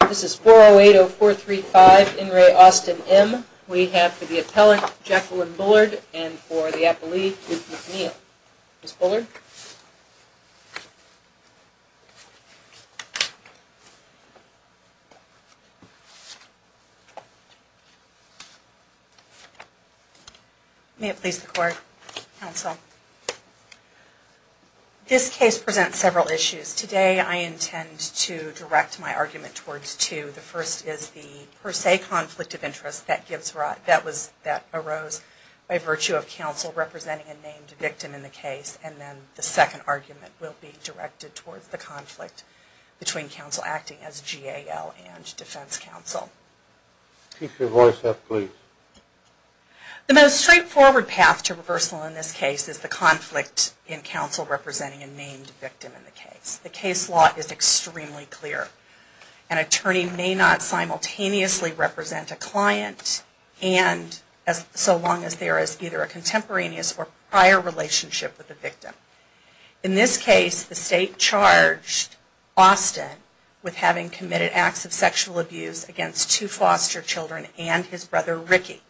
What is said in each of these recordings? This is 4080435, in re. Austin M. We have for the appellant Jacqueline Bullard and for the appellee, Ruth McNeil. Ms. Bullard? May it please the court, counsel. This case presents several issues. Today I intend to direct my argument towards two. The first is the per se conflict of interest that arose by virtue of counsel representing a named victim in the case, and then the second argument will be directed towards the conflict between counsel acting as G.A.L. and defense counsel. Keep your voice up, please. The most straightforward path to reversal in this case is the conflict in counsel representing a named victim in the case. The case law is extremely clear. An attorney may not simultaneously represent a client and so long as there is either a contemporaneous or prior relationship with the victim. In this case, the state charged Austin with having committed acts of sexual abuse against two foster children and his brother, Ricky.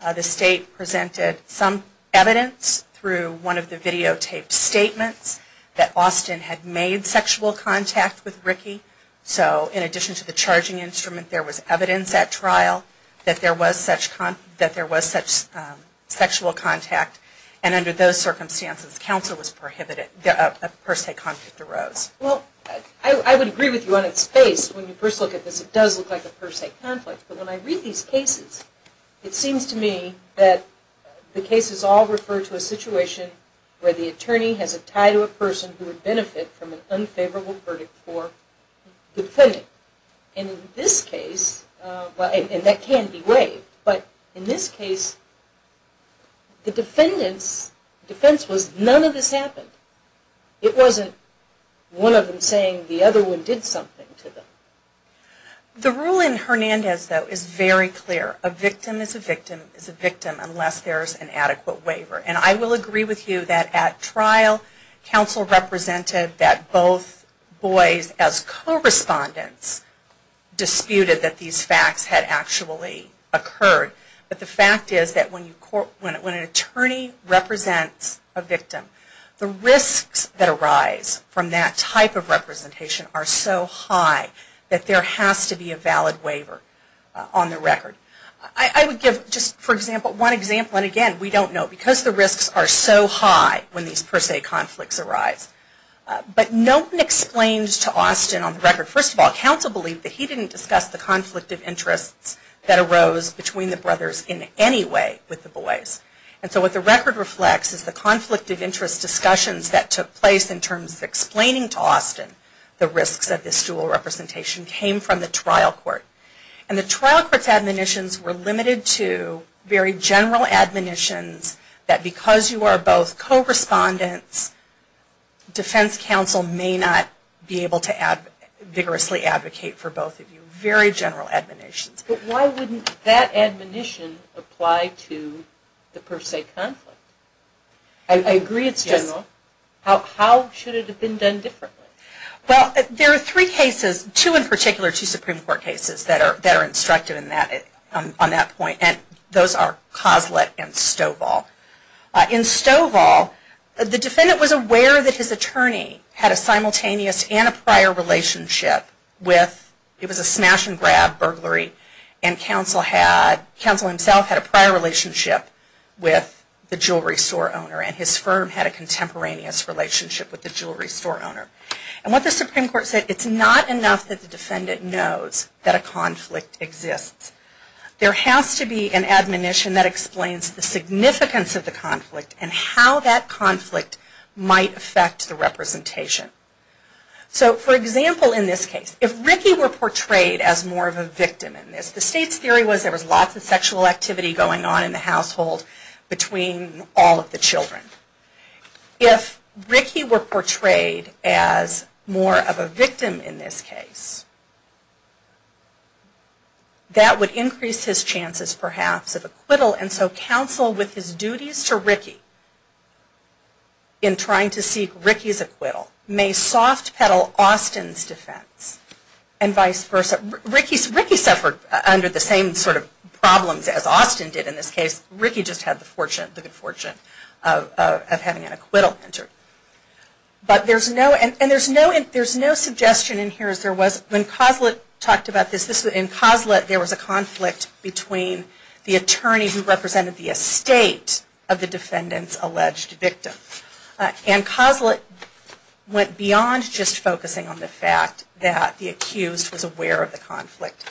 The state presented some evidence through one of the videotaped statements that Austin had made sexual contact with Ricky. So in addition to the charging instrument, there was evidence at trial that there was such sexual contact and under those circumstances, counsel was prohibited, a per se conflict arose. Well, I would agree with you on its face. When you first look at this, it does look like a per se conflict. But when I read these cases, it seems to me that the cases all refer to a situation where the attorney has a tie to a person who would benefit from an unfavorable verdict for the defendant. In this case, and that can be waived, but in this case, the defense was none of this happened. It wasn't one of them saying the other one did something to them. The rule in Hernandez, though, is very clear. A victim is a victim is a victim unless there is an adequate waiver. And I will agree with you that at trial, counsel represented that both boys as correspondents disputed that these facts had actually occurred. But the fact is that when an attorney represents a victim, the risks that arise from that type of representation are so high that there has to be a valid waiver on the record. I would give just one example, and again, we don't know because the risks are so high when these per se conflicts arise. But Knowton explains to Austin on the record, first of all, counsel believed that he didn't discuss the conflict of interests that arose between the brothers in any way with the boys. And so what the record reflects is the conflict of interest discussions that took place in terms of explaining to Austin the risks of this dual representation came from the trial court. And the trial court's admonitions were limited to very general admonitions that because you are both correspondents, defense counsel may not be able to vigorously advocate for both of you. Very general admonitions. But why wouldn't that admonition apply to the per se conflict? I agree it's general. How should it have been done differently? Well, there are three cases, two in particular, two Supreme Court cases that are instructed on that point, and those are Coslett and Stovall. In Stovall, the defendant was aware that his attorney had a simultaneous and a prior relationship with, it was a smash and grab burglary, and counsel himself had a prior relationship with the jewelry store owner and his firm had a contemporaneous relationship with the jewelry store owner. And what the Supreme Court said, it's not enough that the defendant knows that a conflict exists. There has to be an admonition that explains the significance of the conflict and how that conflict might affect the representation. So, for example, in this case, if Ricky were portrayed as more of a victim in this, the state's theory was there was lots of sexual activity going on in the household between all of the children. If Ricky were portrayed as more of a victim in this case, that would increase his chances, perhaps, of acquittal and so counsel with his duties to Ricky in trying to seek Ricky's acquittal. May soft pedal Austin's defense and vice versa. Ricky suffered under the same sort of problems as Austin did in this case. Ricky just had the good fortune of having an acquittal entered. But there's no, and there's no suggestion in here as there was, when Coslett talked about this, in Coslett there was a conflict between the attorney who represented the estate of the defendant's alleged victim. And Coslett went beyond just focusing on the fact that the accused was aware of the conflict.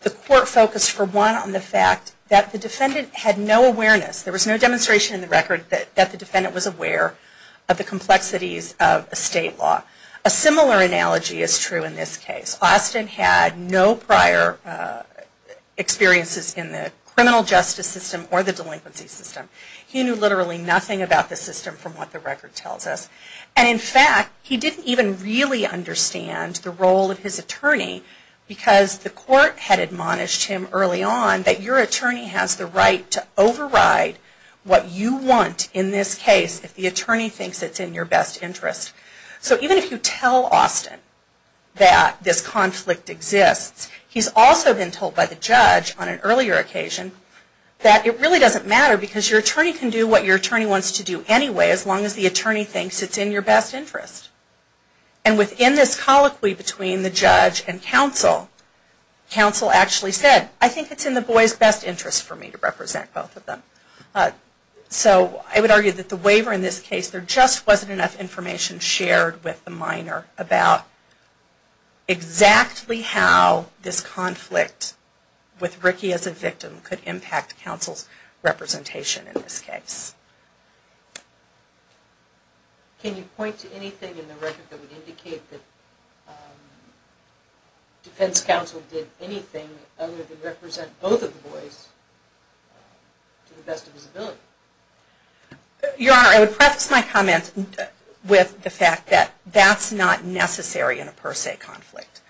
The court focused, for one, on the fact that the defendant had no awareness, there was no demonstration in the record that the defendant was aware of the complexities of estate law. A similar analogy is true in this case. Austin had no prior experiences in the criminal justice system or the delinquency system. He knew literally nothing about the system from what the record tells us. And in fact, he didn't even really understand the role of his attorney because the court had admonished him early on that your attorney has the right to override what you want in this case if the attorney thinks it's in your best interest. So even if you tell Austin that this conflict exists, he's also been told by the judge on an earlier occasion that it really doesn't matter because your attorney can do what your attorney wants to do anyway as long as the attorney thinks it's in your best interest. And within this colloquy between the judge and counsel, counsel actually said, I think it's in the boy's best interest for me to represent both of them. So I would argue that the waiver in this case, there just wasn't enough information shared with the minor about exactly how this conflict with Ricky as a victim could impact counsel's representation in this case. Can you point to anything in the record that would indicate that defense counsel did anything other than represent both of the boys to the best of his ability? Your Honor, I would preface my comments with the fact that that's not necessary in a per se conflict.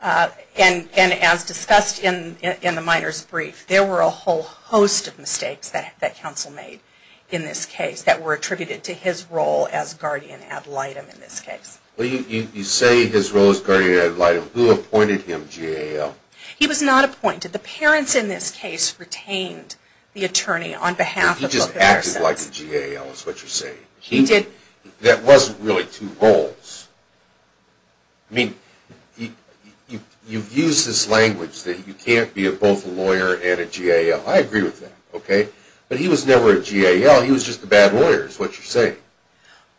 And as discussed in the minor's brief, there were a whole host of mistakes that counsel made in this case that were attributed to his role as guardian ad litem in this case. You say his role as guardian ad litem. Who appointed him GAO? He was not appointed. The parents in this case retained the attorney on behalf of the parents. He just acted like a GAO is what you're saying. He did. That wasn't really two roles. I mean, you've used this language that you can't be both a lawyer and a GAO. I agree with that, okay? But he was never a GAO. He was just a bad lawyer is what you're saying.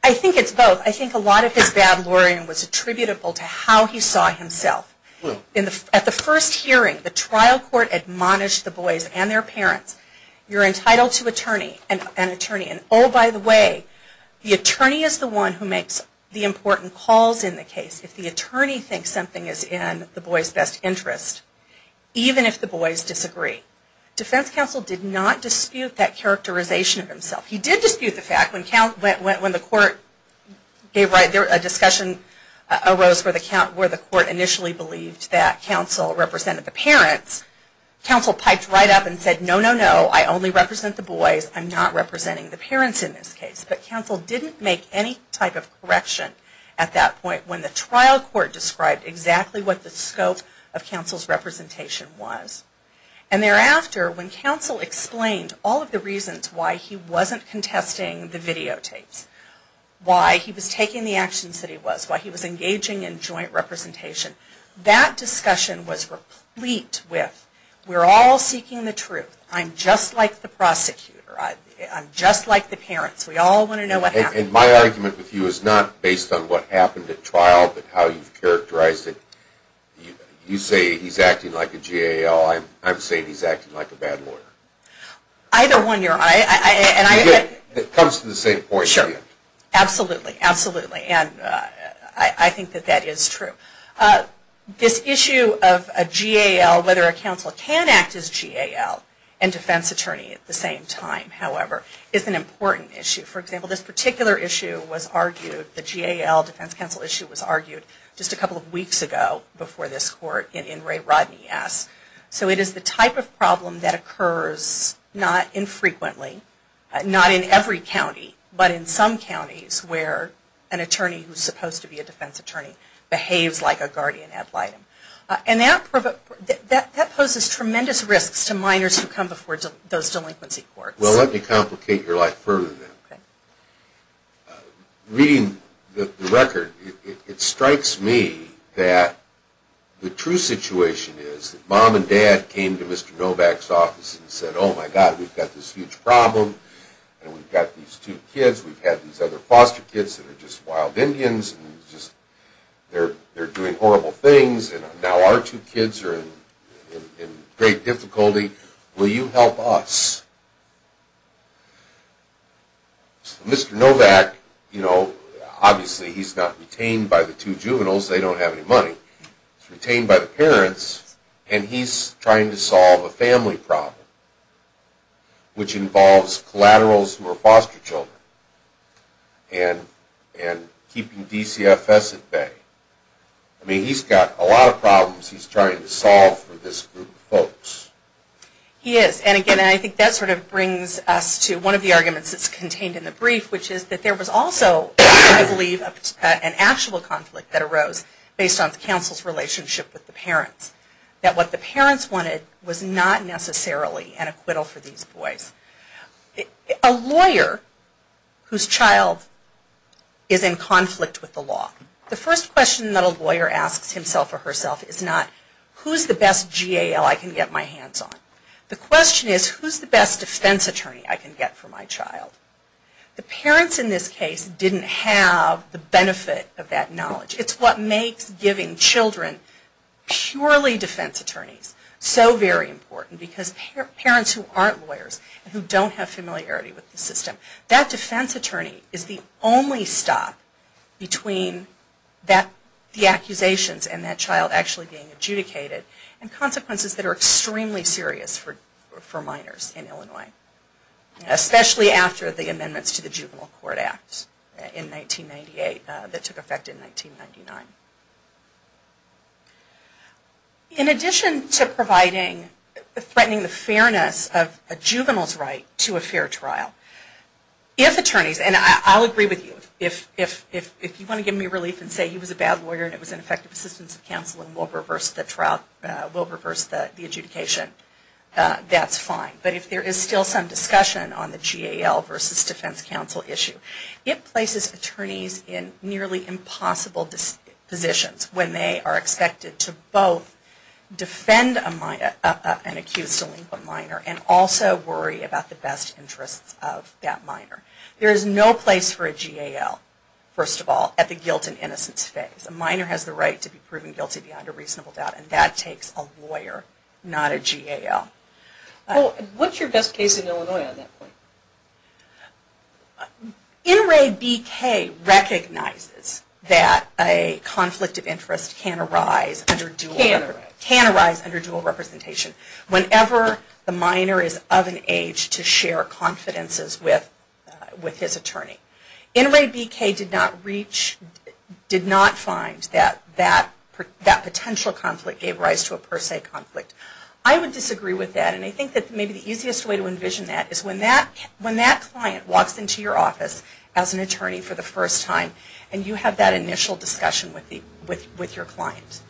I think it's both. I think a lot of his bad lawyering was attributable to how he saw himself. At the first hearing, the trial court admonished the boys and their parents. You're entitled to an attorney. And oh, by the way, the attorney is the one who makes the important calls in the case if the attorney thinks something is in the boys' best interest, even if the boys disagree. Defense counsel did not dispute that characterization of himself. He did dispute the fact when the court gave a discussion arose where the court initially believed that counsel represented the parents, counsel piped right up and said, no, no, no, I only represent the boys. I'm not representing the parents in this case. But counsel didn't make any type of correction at that point when the trial court described exactly what the scope of counsel's representation was. And thereafter, when counsel explained all of the reasons why he wasn't contesting the videotapes, why he was taking the actions that he was, why he was engaging in joint representation, that discussion was replete with, we're all seeking the truth. I'm just like the prosecutor. I'm just like the parents. We all want to know what happened. And my argument with you is not based on what happened at trial, but how you've characterized it. You say he's acting like a GAL. I'm saying he's acting like a bad lawyer. Either one, your honor. It comes to the same point. Sure. Absolutely. Absolutely. And I think that that is true. This issue of a GAL, whether a counsel can act as GAL and defense attorney at the same time, however, is an important issue. For example, this particular issue was argued, the GAL defense counsel issue was argued just a couple of weeks ago before this court in Ray Rodney S. So it is the type of problem that occurs not infrequently, not in every county, but in some counties where an attorney who's supposed to be a defense attorney behaves like a guardian ad litem. And that poses tremendous risks to minors who come before those delinquency courts. Well, let me complicate your life further than that. Reading the record, it strikes me that the true situation is that mom and dad came to Mr. Novak's office and said, oh, my God, we've got this huge problem, and we've got these two kids, we've had these other foster kids that are just wild Indians, and just, they're doing horrible things, and now our two kids are in great difficulty. Will you help us? Mr. Novak, you know, obviously he's not retained by the two juveniles, they don't have any money. He's retained by the parents, and he's trying to solve a family problem, which involves collaterals who are foster children. And keeping DCFS at bay. I mean, he's got a lot of problems he's trying to solve for this group of folks. He is, and again, I think that sort of brings us to one of the arguments that's contained in the brief, which is that there was also, I believe, an actual conflict that arose based on the counsel's relationship with the parents. That what the parents wanted was not necessarily an acquittal for these boys. A lawyer whose child is in conflict with the law, the first question that a lawyer asks himself or herself is not, who's the best GAL I can get my hands on? The question is, who's the best defense attorney I can get for my child? The parents in this case didn't have the benefit of that knowledge. It's what makes giving children purely defense attorneys so very important, because parents who aren't lawyers, who don't have familiarity with the system, that defense attorney is the only stop between the accusations and that child actually being adjudicated, and consequences that are extremely serious for minors in Illinois. Especially after the amendments to the Juvenile Court Act in 1998 that took effect in 1999. In addition to providing, threatening the fairness of a juvenile's right to a fair trial, if attorneys, and I'll agree with you, if you want to give me relief and say he was a bad lawyer and it was ineffective assistance of counsel and will reverse the trial, will reverse the adjudication, that's fine. But if there is still some discussion on the GAL versus defense counsel issue, it places attorneys in nearly impossible positions when they are expected to both defend an accused delinquent minor and also worry about the best interests of that minor. There is no place for a GAL, first of all, at the guilt and innocence phase. A minor has the right to be proven guilty beyond a reasonable doubt, and that takes a lawyer, not a GAL. What's your best case in Illinois on that point? NRABK recognizes that a conflict of interest can arise under dual representation. Whenever the minor is of an age to share confidences with his attorney. NRABK did not find that that potential conflict gave rise to a per se conflict. I would disagree with that, and I think that maybe the easiest way to envision that is when that client walks into your office as an attorney for the first time and you have that initial discussion with your client.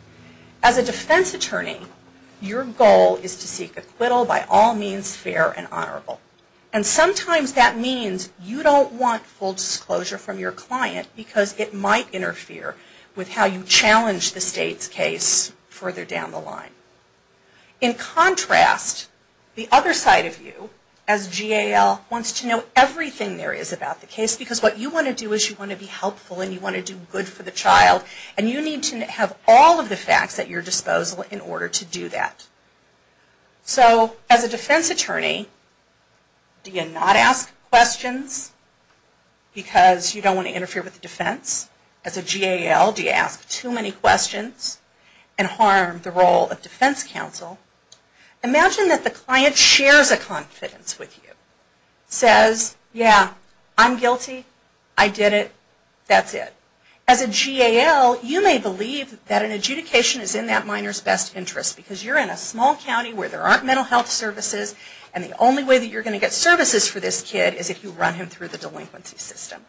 As a defense attorney, your goal is to seek acquittal by all means fair and honorable. And sometimes that means you don't want full disclosure from your client because it might interfere with how you challenge the state's case further down the line. In contrast, the other side of you, as GAL, wants to know everything there is about the case because what you want to do is you want to do good for the child and you need to have all of the facts at your disposal in order to do that. So as a defense attorney, do you not ask questions because you don't want to interfere with the defense? As a GAL, do you ask too many questions and harm the role of defense counsel? Imagine that the client shares a confidence with you. Says, yeah, I'm guilty, I did it, that's it. As a GAL, you may believe that an adjudication is in that minor's best interest because you're in a small county where there aren't mental health services and the only way that you're going to get services for this kid is if you run him through the delinquency system.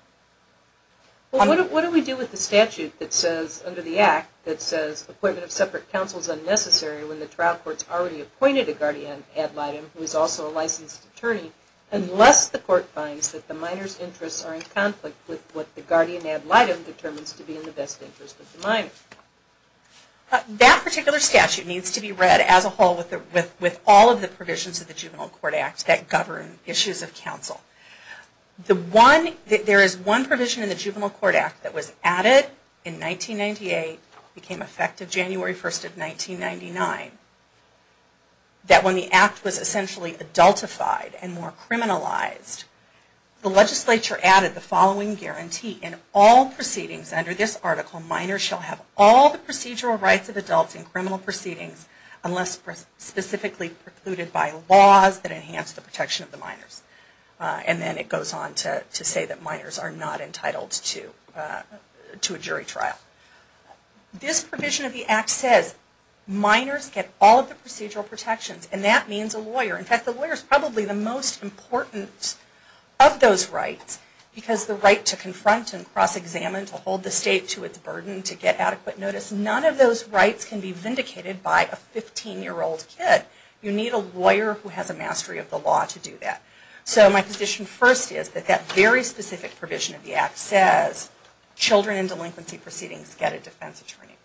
What do we do with the statute that says, under the Act, that says appointment of separate counsel is unnecessary when the trial court has already appointed a guardian ad litem who is also a licensed attorney unless the court finds that the minor's interests are in conflict with what the guardian ad litem determines to be in the best interest of the minor? That particular statute needs to be read as a whole with all of the provisions of the Juvenile Court Act that govern issues of counsel. There is one provision in the Juvenile Court Act that was added in 1998, became effective January 1st of 1999, that when the Act was essentially adultified and more criminalized, the legislature added the following guarantee. In all proceedings under this article, minors shall have all the procedural rights of adults in criminal proceedings unless specifically precluded by laws that enhance the protection of the minors. And then it goes on to say that minors are not entitled to a jury trial. This provision of the Act says minors get all of the procedural protections and that means a lawyer. In fact, the lawyer is probably the most important of those rights because the right to confront and cross-examine, to hold the state to its burden, to get adequate notice, none of those rights can be vindicated by a 15-year-old kid. You need a lawyer who has a mastery of the law to do that. So my position first is that that very specific provision of the Act says children in delinquency proceedings get a defense attorney.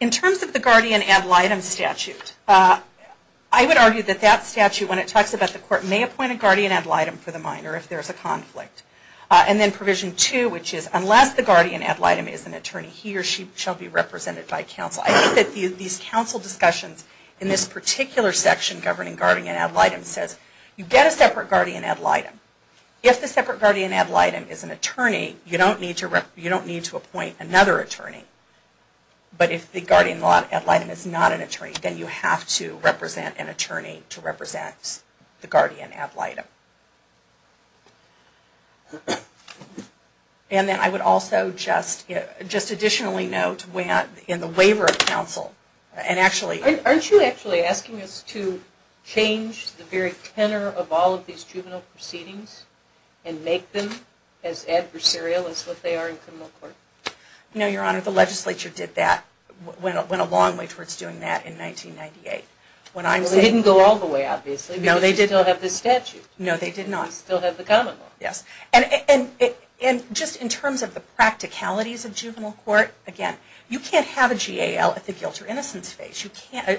In terms of the guardian ad litem statute, I would argue that that statute, when it talks about the court, may appoint a guardian ad litem for the minor if there is a conflict. And then Provision 2, which is unless the guardian ad litem is an attorney, he or she shall be represented by counsel. I think that these counsel discussions in this particular section governing guardian ad litem says you get a separate guardian ad litem. If the separate guardian ad litem is an attorney, you don't need to appoint another attorney. But if the guardian ad litem is not an attorney, then you have to represent an attorney to represent the guardian ad litem. And then I would also just additionally note in the waiver of counsel, and actually... Aren't you actually asking us to change the very tenor of all of these juvenile proceedings and make them as adversarial as what they are in criminal court? No, Your Honor. The legislature did that, went a long way towards doing that in 1998. Well, they didn't go all the way, obviously, because they still have the statute. No, they did not. And just in terms of the practicalities of juvenile court, again, you can't have a GAL at the guilt or there's no place for a GAL.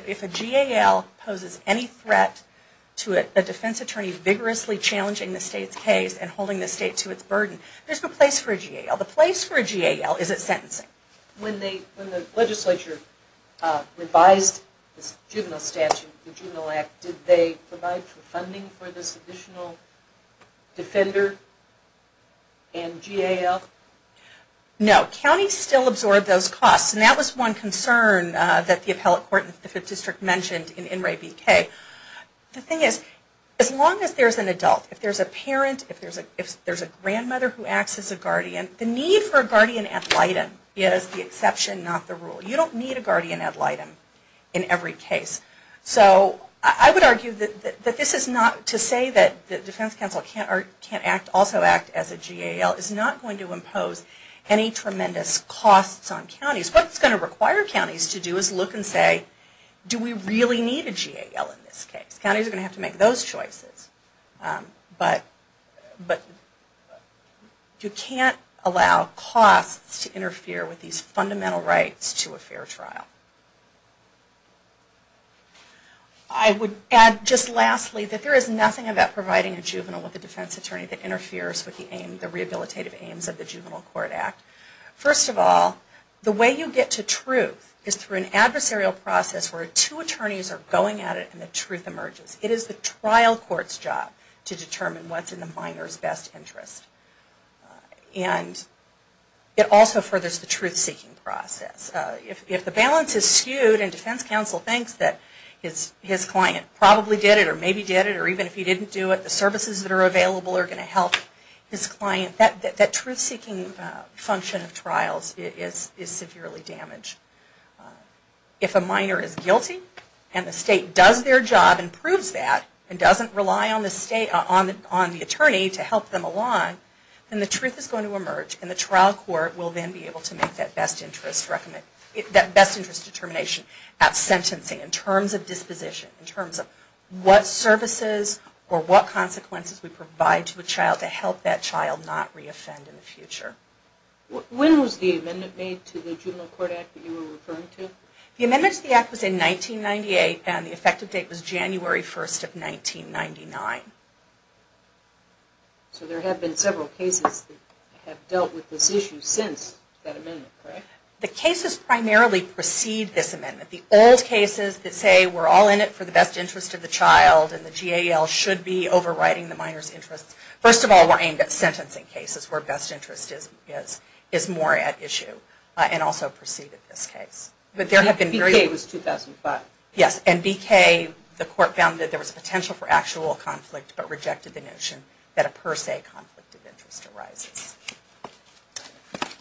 The place for a GAL is at sentencing. When the legislature revised the Juvenile Statute, the Juvenile Act, did they provide funding for this additional defender and GAL? No. Counties still absorb those costs. And that was one concern that the appellate court in the 5th District mentioned in The need for a guardian ad litem is the exception, not the rule. You don't need a guardian ad litem in every case. So I would argue that this is not to say that the defense counsel can't also act as a GAL. It's not going to impose any tremendous costs on counties. What it's going to require counties to do is look and say, do we really need a GAL in this case? Counties are going to have to make those choices. But you can't allow costs to interfere with these fundamental rights to a fair trial. I would add just lastly that there is nothing about providing a juvenile with a defense attorney that interferes with the rehabilitative aims of the Juvenile Court Act. First of all, the way you get to truth is through an adversarial process where two attorneys are going at it and the truth emerges. It is the trial court's job to determine what's in the minor's best interest. And it also furthers the truth-seeking process. If the balance is skewed and defense counsel thinks that his client probably did it or maybe did it or even if he didn't do it, the services that are available are going to help his client, that truth-seeking function of trials is severely damaged. If a minor is guilty and the state does their job and proves that and doesn't rely on the attorney to help them along, then the truth is going to emerge and the trial court will then be able to make that best interest determination at sentencing in terms of disposition, in terms of what services or what consequences we provide to a child to help that child not re-offend in the future. When was the amendment made to the Juvenile Court Act that you were referring to? The amendment to the Act was in 1998 and the effective date was January 1, 1999. So there have been several cases that have dealt with this issue since that amendment, correct? The cases primarily precede this amendment. The old cases that say we're all in it for the best interest of the child and the GAL should be overriding the minor's interests. First of all, we're aimed at sentencing cases where best interest is more at issue and also precede this case. BK was 2005. Yes, and BK, the court found that there was potential for actual conflict but rejected the notion that a per se conflict of interest arises.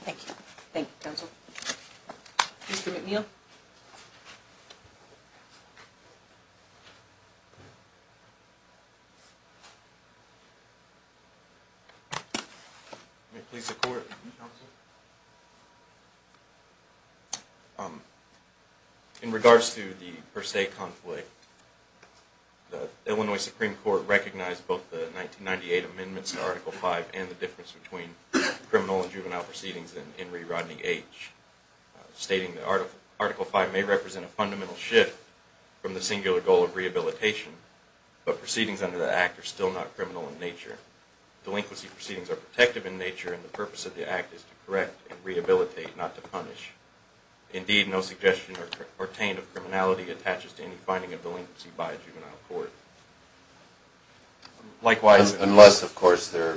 Thank you. Thank you, counsel. Mr. McNeil? In regards to the per se conflict, the Illinois Supreme Court recognized both the 1998 amendments to Article V and the difference between criminal and juvenile proceedings in Henry Rodney H., stating that Article V may represent a fundamental shift from the singular goal of rehabilitation, but proceedings under the Act are still not criminal in nature. Delinquency proceedings are protective in nature and the purpose of the Act is to correct and rehabilitate, not to punish. Indeed, no suggestion or curtain of criminality attaches to any finding of delinquency by a juvenile court. Unless, of course, they're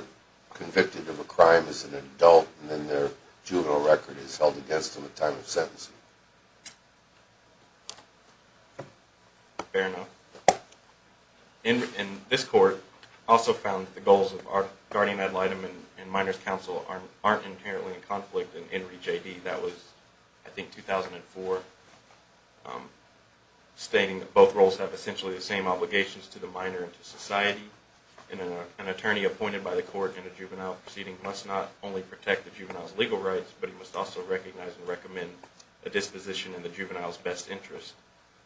convicted of a crime as an adult and then their juvenile record is held against them at time of sentencing. Fair enough. And this court also found that the goals of our guardian ad litem and minor's counsel aren't inherently in conflict in Henry J.D. That was, I think, 2004, stating that both roles have essentially the same obligations to the minor and to society. An attorney appointed by the court in a juvenile proceeding must not only protect the juvenile's legal rights, but he must also recognize and recommend a disposition in the juvenile's best interest,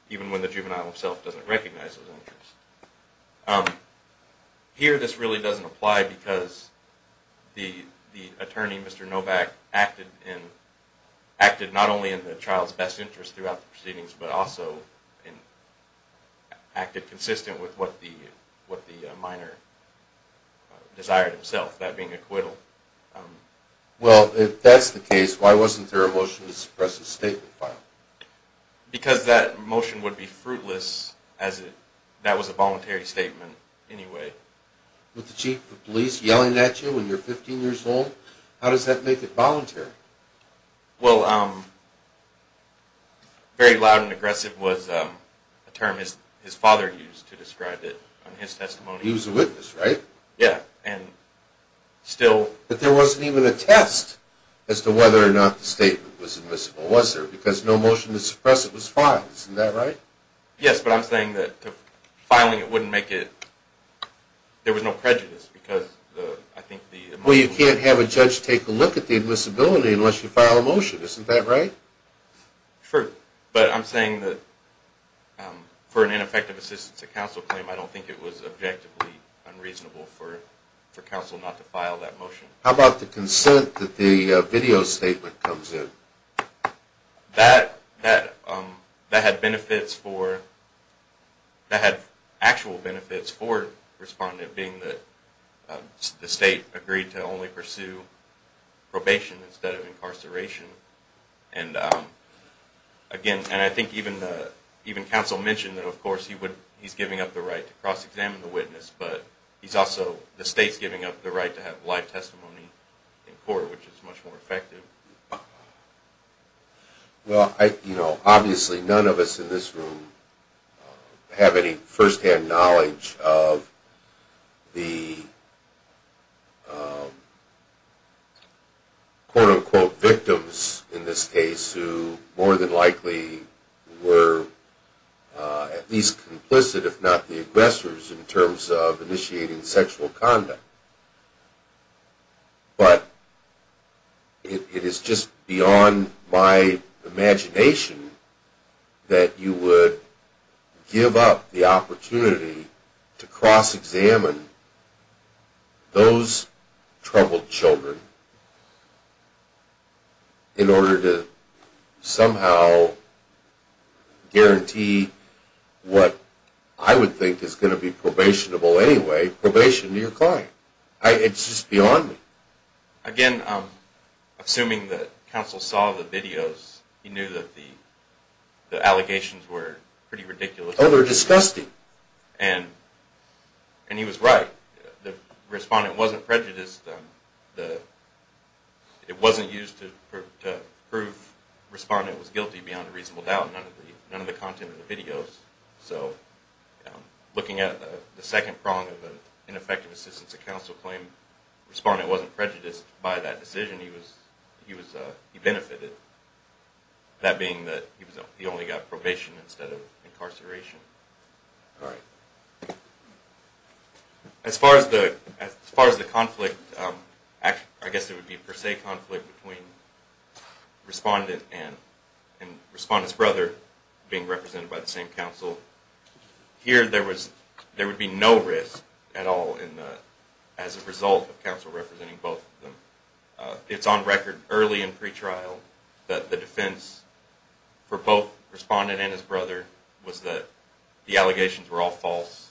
even when the juvenile himself doesn't recognize those interests. Here, this really doesn't apply because the attorney, Mr. Novak, acted not only in the child's best interest throughout the proceedings, but also acted consistent with what the minor desired himself, that being acquittal. Well, if that's the case, why wasn't there a motion to suppress the statement file? Because that motion would be fruitless as that was a voluntary statement anyway. With the chief of police yelling at you when you're 15 years old, how does that make it voluntary? Well, very loud and aggressive was a term his father used to describe it in his testimony. He was a witness, right? But there wasn't even a test as to whether or not the statement was admissible, was there? Because no motion to suppress it was filed, isn't that right? Yes, but I'm saying that filing it wouldn't make it... there was no prejudice. Well, you can't have a judge take a look at the admissibility unless you file a motion, isn't that right? Sure, but I'm saying that for an ineffective assistance to counsel claim, I don't think it was objectively unreasonable for counsel not to file that motion. How about the consent that the video statement comes in? That had benefits for... that had actual benefits for the respondent, being that the state agreed to only pursue probation instead of incarceration. And I think even counsel mentioned that, of course, he's giving up the right to cross-examine the witness, but he's also... the state's giving up the right to have live testimony in court, which is much more effective. Well, you know, obviously none of us in this room have any first-hand knowledge of the quote-unquote victims, in this case, who more than likely were at least complicit, if not the aggressors, in terms of initiating sexual conduct. But it is just beyond my imagination that you would give up the opportunity to cross-examine those troubled children in order to somehow guarantee what I would think is going to be probationable anyway, probation to your client. It's just beyond me. Again, assuming that counsel saw the videos, he knew that the allegations were pretty ridiculous. Oh, they're disgusting. And he was right. The respondent wasn't prejudiced. It wasn't used to prove the respondent was guilty beyond a reasonable doubt. None of the content of the videos. So looking at the second prong of an ineffective assistance to counsel claim, the respondent wasn't prejudiced by that decision. He benefited. That being that he only got probation instead of incarceration. As far as the conflict, I guess it would be per se conflict between the respondent and the respondent's brother, being represented by the same counsel. Here there would be no risk at all as a result of counsel representing both of them. It's on record early in pretrial that the defense for both the respondent and his brother was that the allegations were all false.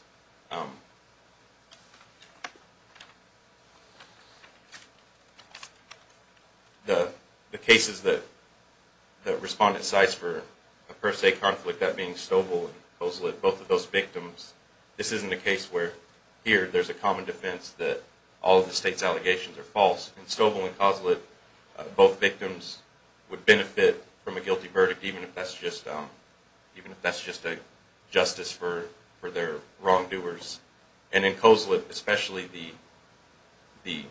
The cases that the respondent cites for a per se conflict, that being Stobel and Coslett, both of those victims, this isn't a case where here there's a common defense that all of the state's allegations are false. In Stobel and Coslett, both victims would benefit from a guilty verdict even if that's just a justice for their wrongdoing. And in Coslett, especially the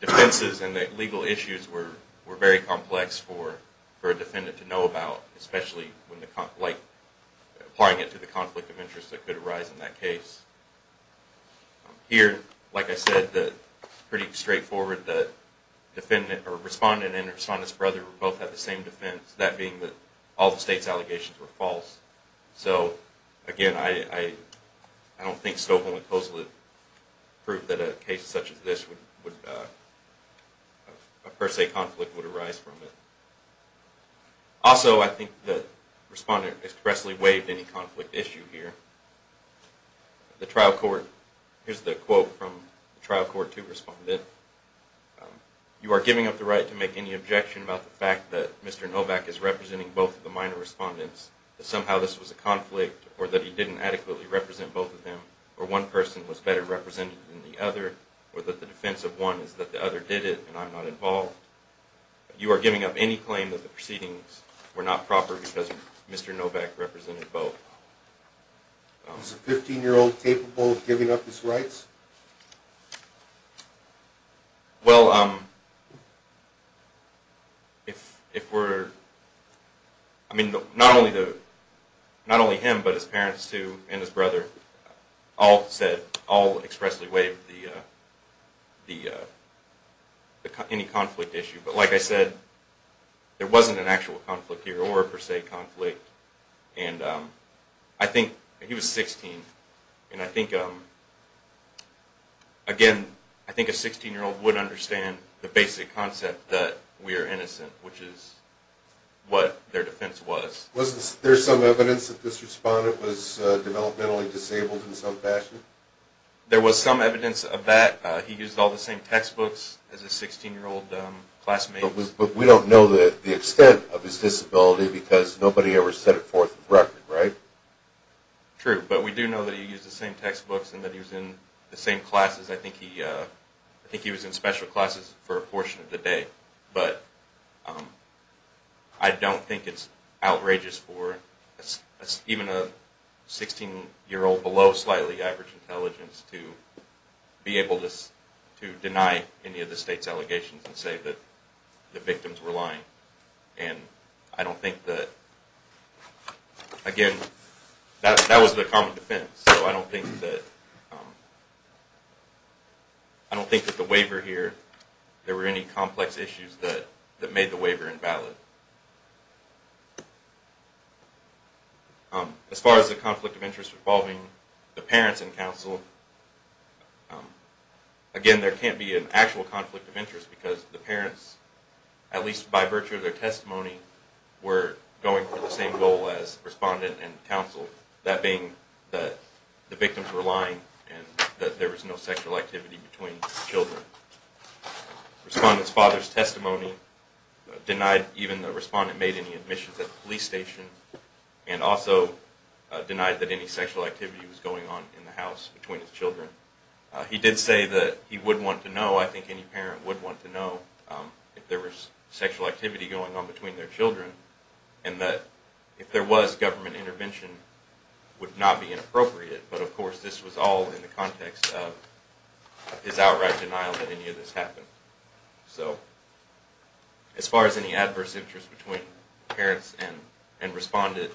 defenses and the legal issues were very complex for a defendant to know about, especially when applying it to the conflict of interest that could arise in that case. Here, like I said, pretty straightforward, the respondent and his brother both have the same defense, that being that all the state's allegations were false. So, again, I don't think Stobel and Coslett proved that a case such as this, a per se conflict would arise from it. Also, I think the respondent expressly waived any conflict issue here. Here's the quote from the trial court to respondent. You are giving up the right to make any objection about the fact that Mr. Novak is representing both of the minor respondents, that somehow this was a conflict, or that he didn't adequately represent both of them, or one person was better represented than the other, or that the defense of one is that the other did it and I'm not involved. You are giving up any claim that the proceedings were not proper because Mr. Novak represented both. Is a 15-year-old capable of giving up his rights? Well, if we're... I mean, not only him, but his parents, too, and his brother all said, all expressly waived any conflict issue. But like I said, there wasn't an actual conflict here, or a per se conflict. And I think, he was 16, and I think, again, I think a 16-year-old would understand the basic concept that we are innocent, which is what their defense was. Was there some evidence that this respondent was developmentally disabled in some fashion? There was some evidence of that. He used all the same textbooks as his 16-year-old classmates. But we don't know the extent of his disability because nobody ever set it forth with record, right? True, but we do know that he used the same textbooks and that he was in the same classes. I think he was in special classes for a portion of the day. But I don't think it's outrageous for even a 16-year-old below slightly average intelligence to be able to deny any of the state's allegations and say that the victims were lying. And I don't think that, again, that was the common defense. So I don't think that the waiver here, there were any complex issues that made the waiver invalid. As far as the conflict of interest involving the parents and counsel, again, there can't be an actual conflict of interest because the parents, at least by virtue of their testimony, were going for the same goal as respondent and counsel, that being that the victims were lying and that there was no sexual activity between the children. Respondent's father's testimony denied even the respondent made any admissions at the police station and also denied that any sexual activity was going on in the house between his children. He did say that he would want to know, I think any parent would want to know, if there was sexual activity going on between their children and that if there was, government intervention would not be inappropriate. But, of course, this was all in the context of his outright denial that any of this happened. So, as far as any adverse interest between parents and respondent,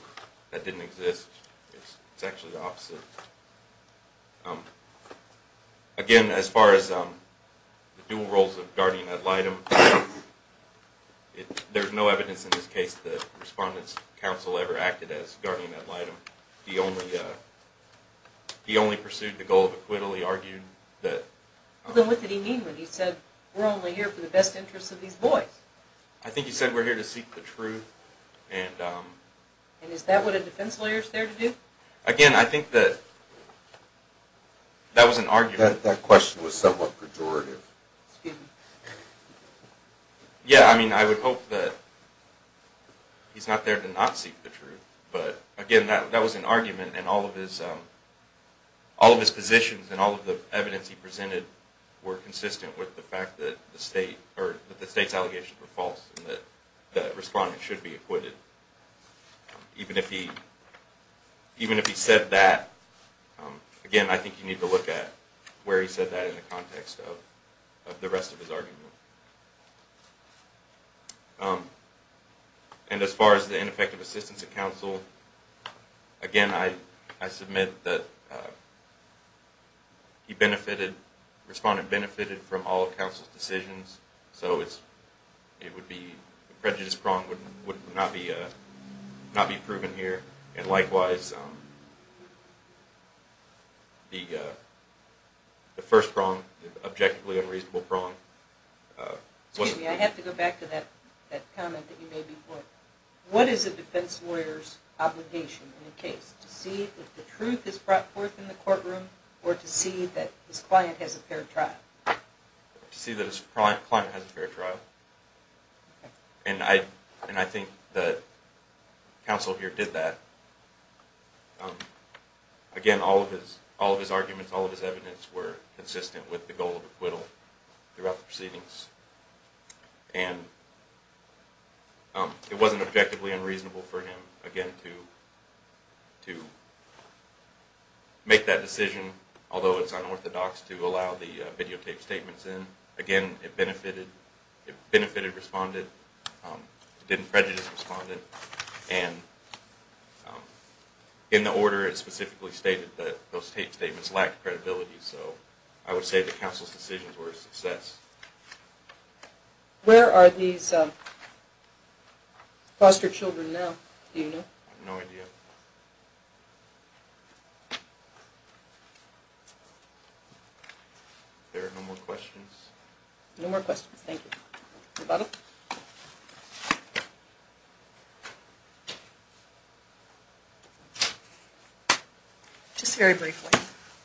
that didn't exist. It's actually the opposite. Again, as far as the dual roles of guardian ad litem, there's no evidence in this case that respondent's counsel ever acted as guardian ad litem. He only pursued the goal of acquittal. He argued that... What did he mean when he said, we're only here for the best interest of these boys? I think he said we're here to seek the truth. And is that what a defense lawyer is there to do? Again, I think that that was an argument. That question was somewhat pejorative. Yeah, I mean, I would hope that he's not there to not seek the truth. But, again, that was an argument and all of his positions and all of the evidence he presented were consistent with the fact that the state's allegations were false and that the respondent should be acquitted. Even if he said that, again, I think you need to look at where he said that And as far as the ineffective assistance of counsel, again, I submit that the respondent benefited from all of counsel's decisions. So the prejudice prong would not be proven here. And likewise, the first prong, the objectively unreasonable prong, Excuse me, I have to go back to that comment that you made before. What is a defense lawyer's obligation in a case? To see if the truth is brought forth in the courtroom or to see that his client has a fair trial? To see that his client has a fair trial. And I think that counsel here did that. Again, all of his arguments, all of his evidence were consistent with the goal of acquittal throughout the proceedings. And it wasn't objectively unreasonable for him, again, to make that decision, although it's unorthodox to allow the videotaped statements in. Again, it benefited the respondent. It didn't prejudice the respondent. And in the order, it specifically stated that those taped statements lacked credibility. So I would say that counsel's decisions were a success. Where are these foster children now? Do you know? I have no idea. Are there no more questions? No more questions. Thank you. Just very briefly.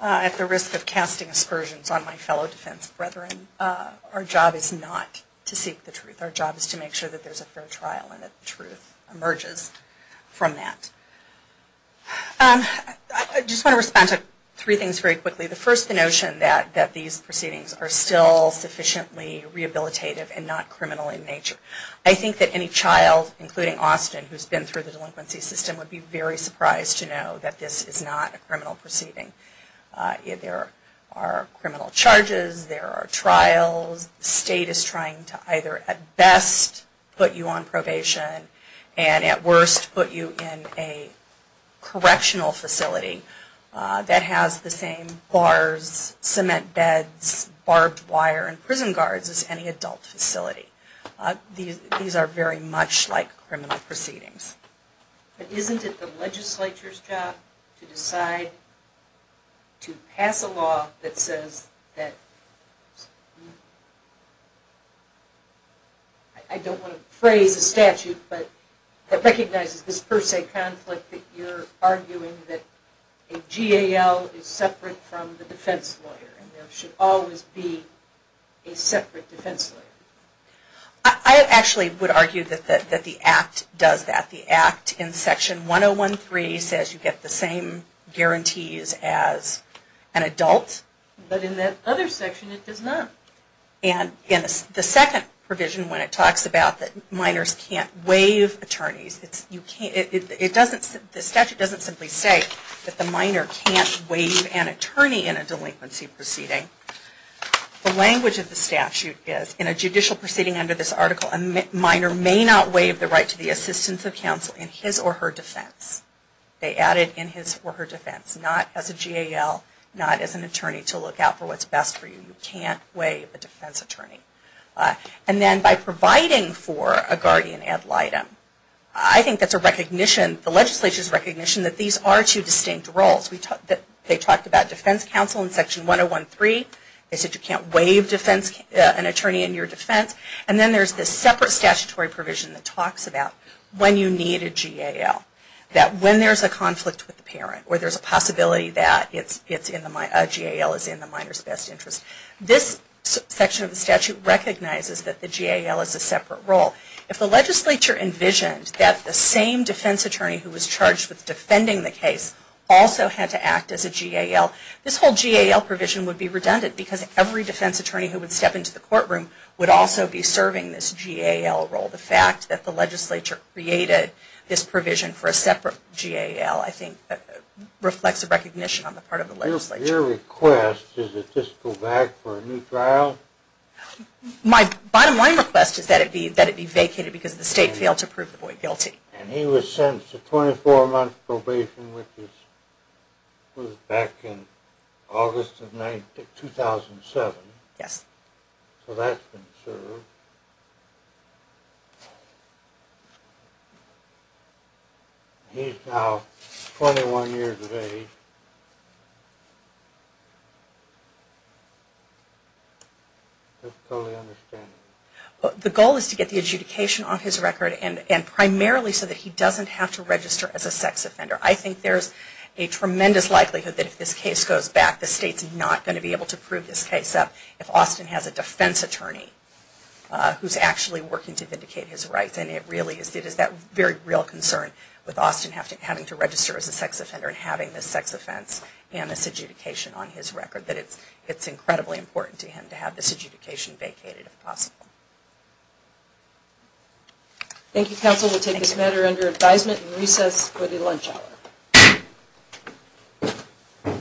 At the risk of casting aspersions on my fellow defense brethren, our job is not to seek the truth. Our job is to make sure that there's a fair trial and that the truth emerges from that. I just want to respond to three things very quickly. The first, the notion that these proceedings are still sufficiently rehabilitative and not criminal in nature. I think that any child, including Austin, who's been through the delinquency system would be very surprised to know that this is not a criminal proceeding. There are criminal charges. There are trials. The state is trying to either at best put you on probation and at worst put you in a correctional facility that has the same bars, cement beds, barbed wire, and prison guards as any adult facility. These are very much like criminal proceedings. But isn't it the legislature's job to decide to pass a law that says that, I don't want to phrase a statute, but that recognizes this per se conflict that you're arguing that a GAL is separate from the defense lawyer and there should always be a separate defense lawyer. I actually would argue that the Act does that. The Act in Section 1013 says you get the same guarantees as an adult. But in that other section it does not. The second provision when it talks about that minors can't waive attorneys, the statute doesn't simply say that the minor can't waive an attorney in a delinquency proceeding. The language of the statute is, in a judicial proceeding under this article, a minor may not waive the right to the assistance of counsel in his or her defense. They add it in his or her defense. Not as a GAL, not as an attorney to look out for what's best for you. You can't waive a defense attorney. And then by providing for a guardian ad litem, I think that's a recognition, the legislature's recognition that these are two distinct roles. They talked about defense counsel in Section 1013. They said you can't waive an attorney in your defense. And then there's this separate statutory provision that talks about where there's a possibility that a GAL is in the minor's best interest. This section of the statute recognizes that the GAL is a separate role. If the legislature envisioned that the same defense attorney who was charged with defending the case also had to act as a GAL, this whole GAL provision would be redundant because every defense attorney who would step into the courtroom would also be serving this GAL role. The fact that the legislature created this provision for a separate GAL, I think, reflects a recognition on the part of the legislature. Your request, does it just go back for a new trial? My bottom line request is that it be vacated because the state failed to prove the boy guilty. And he was sentenced to 24 months probation, which was back in August of 2007. Yes. So that's been served. He's now 21 years of age. I totally understand. The goal is to get the adjudication off his record and primarily so that he doesn't have to register as a sex offender. I think there's a tremendous likelihood that if this case goes back, the state's not going to be able to prove this case up if Austin has a defense attorney who's actually working to vindicate his rights. It really is that very real concern with Austin having to register as a sex offender and having this sex offense and this adjudication on his record that it's incredibly important to him to have this adjudication vacated if possible. Thank you, counsel. We'll take this matter under advisement and recess for the lunch hour.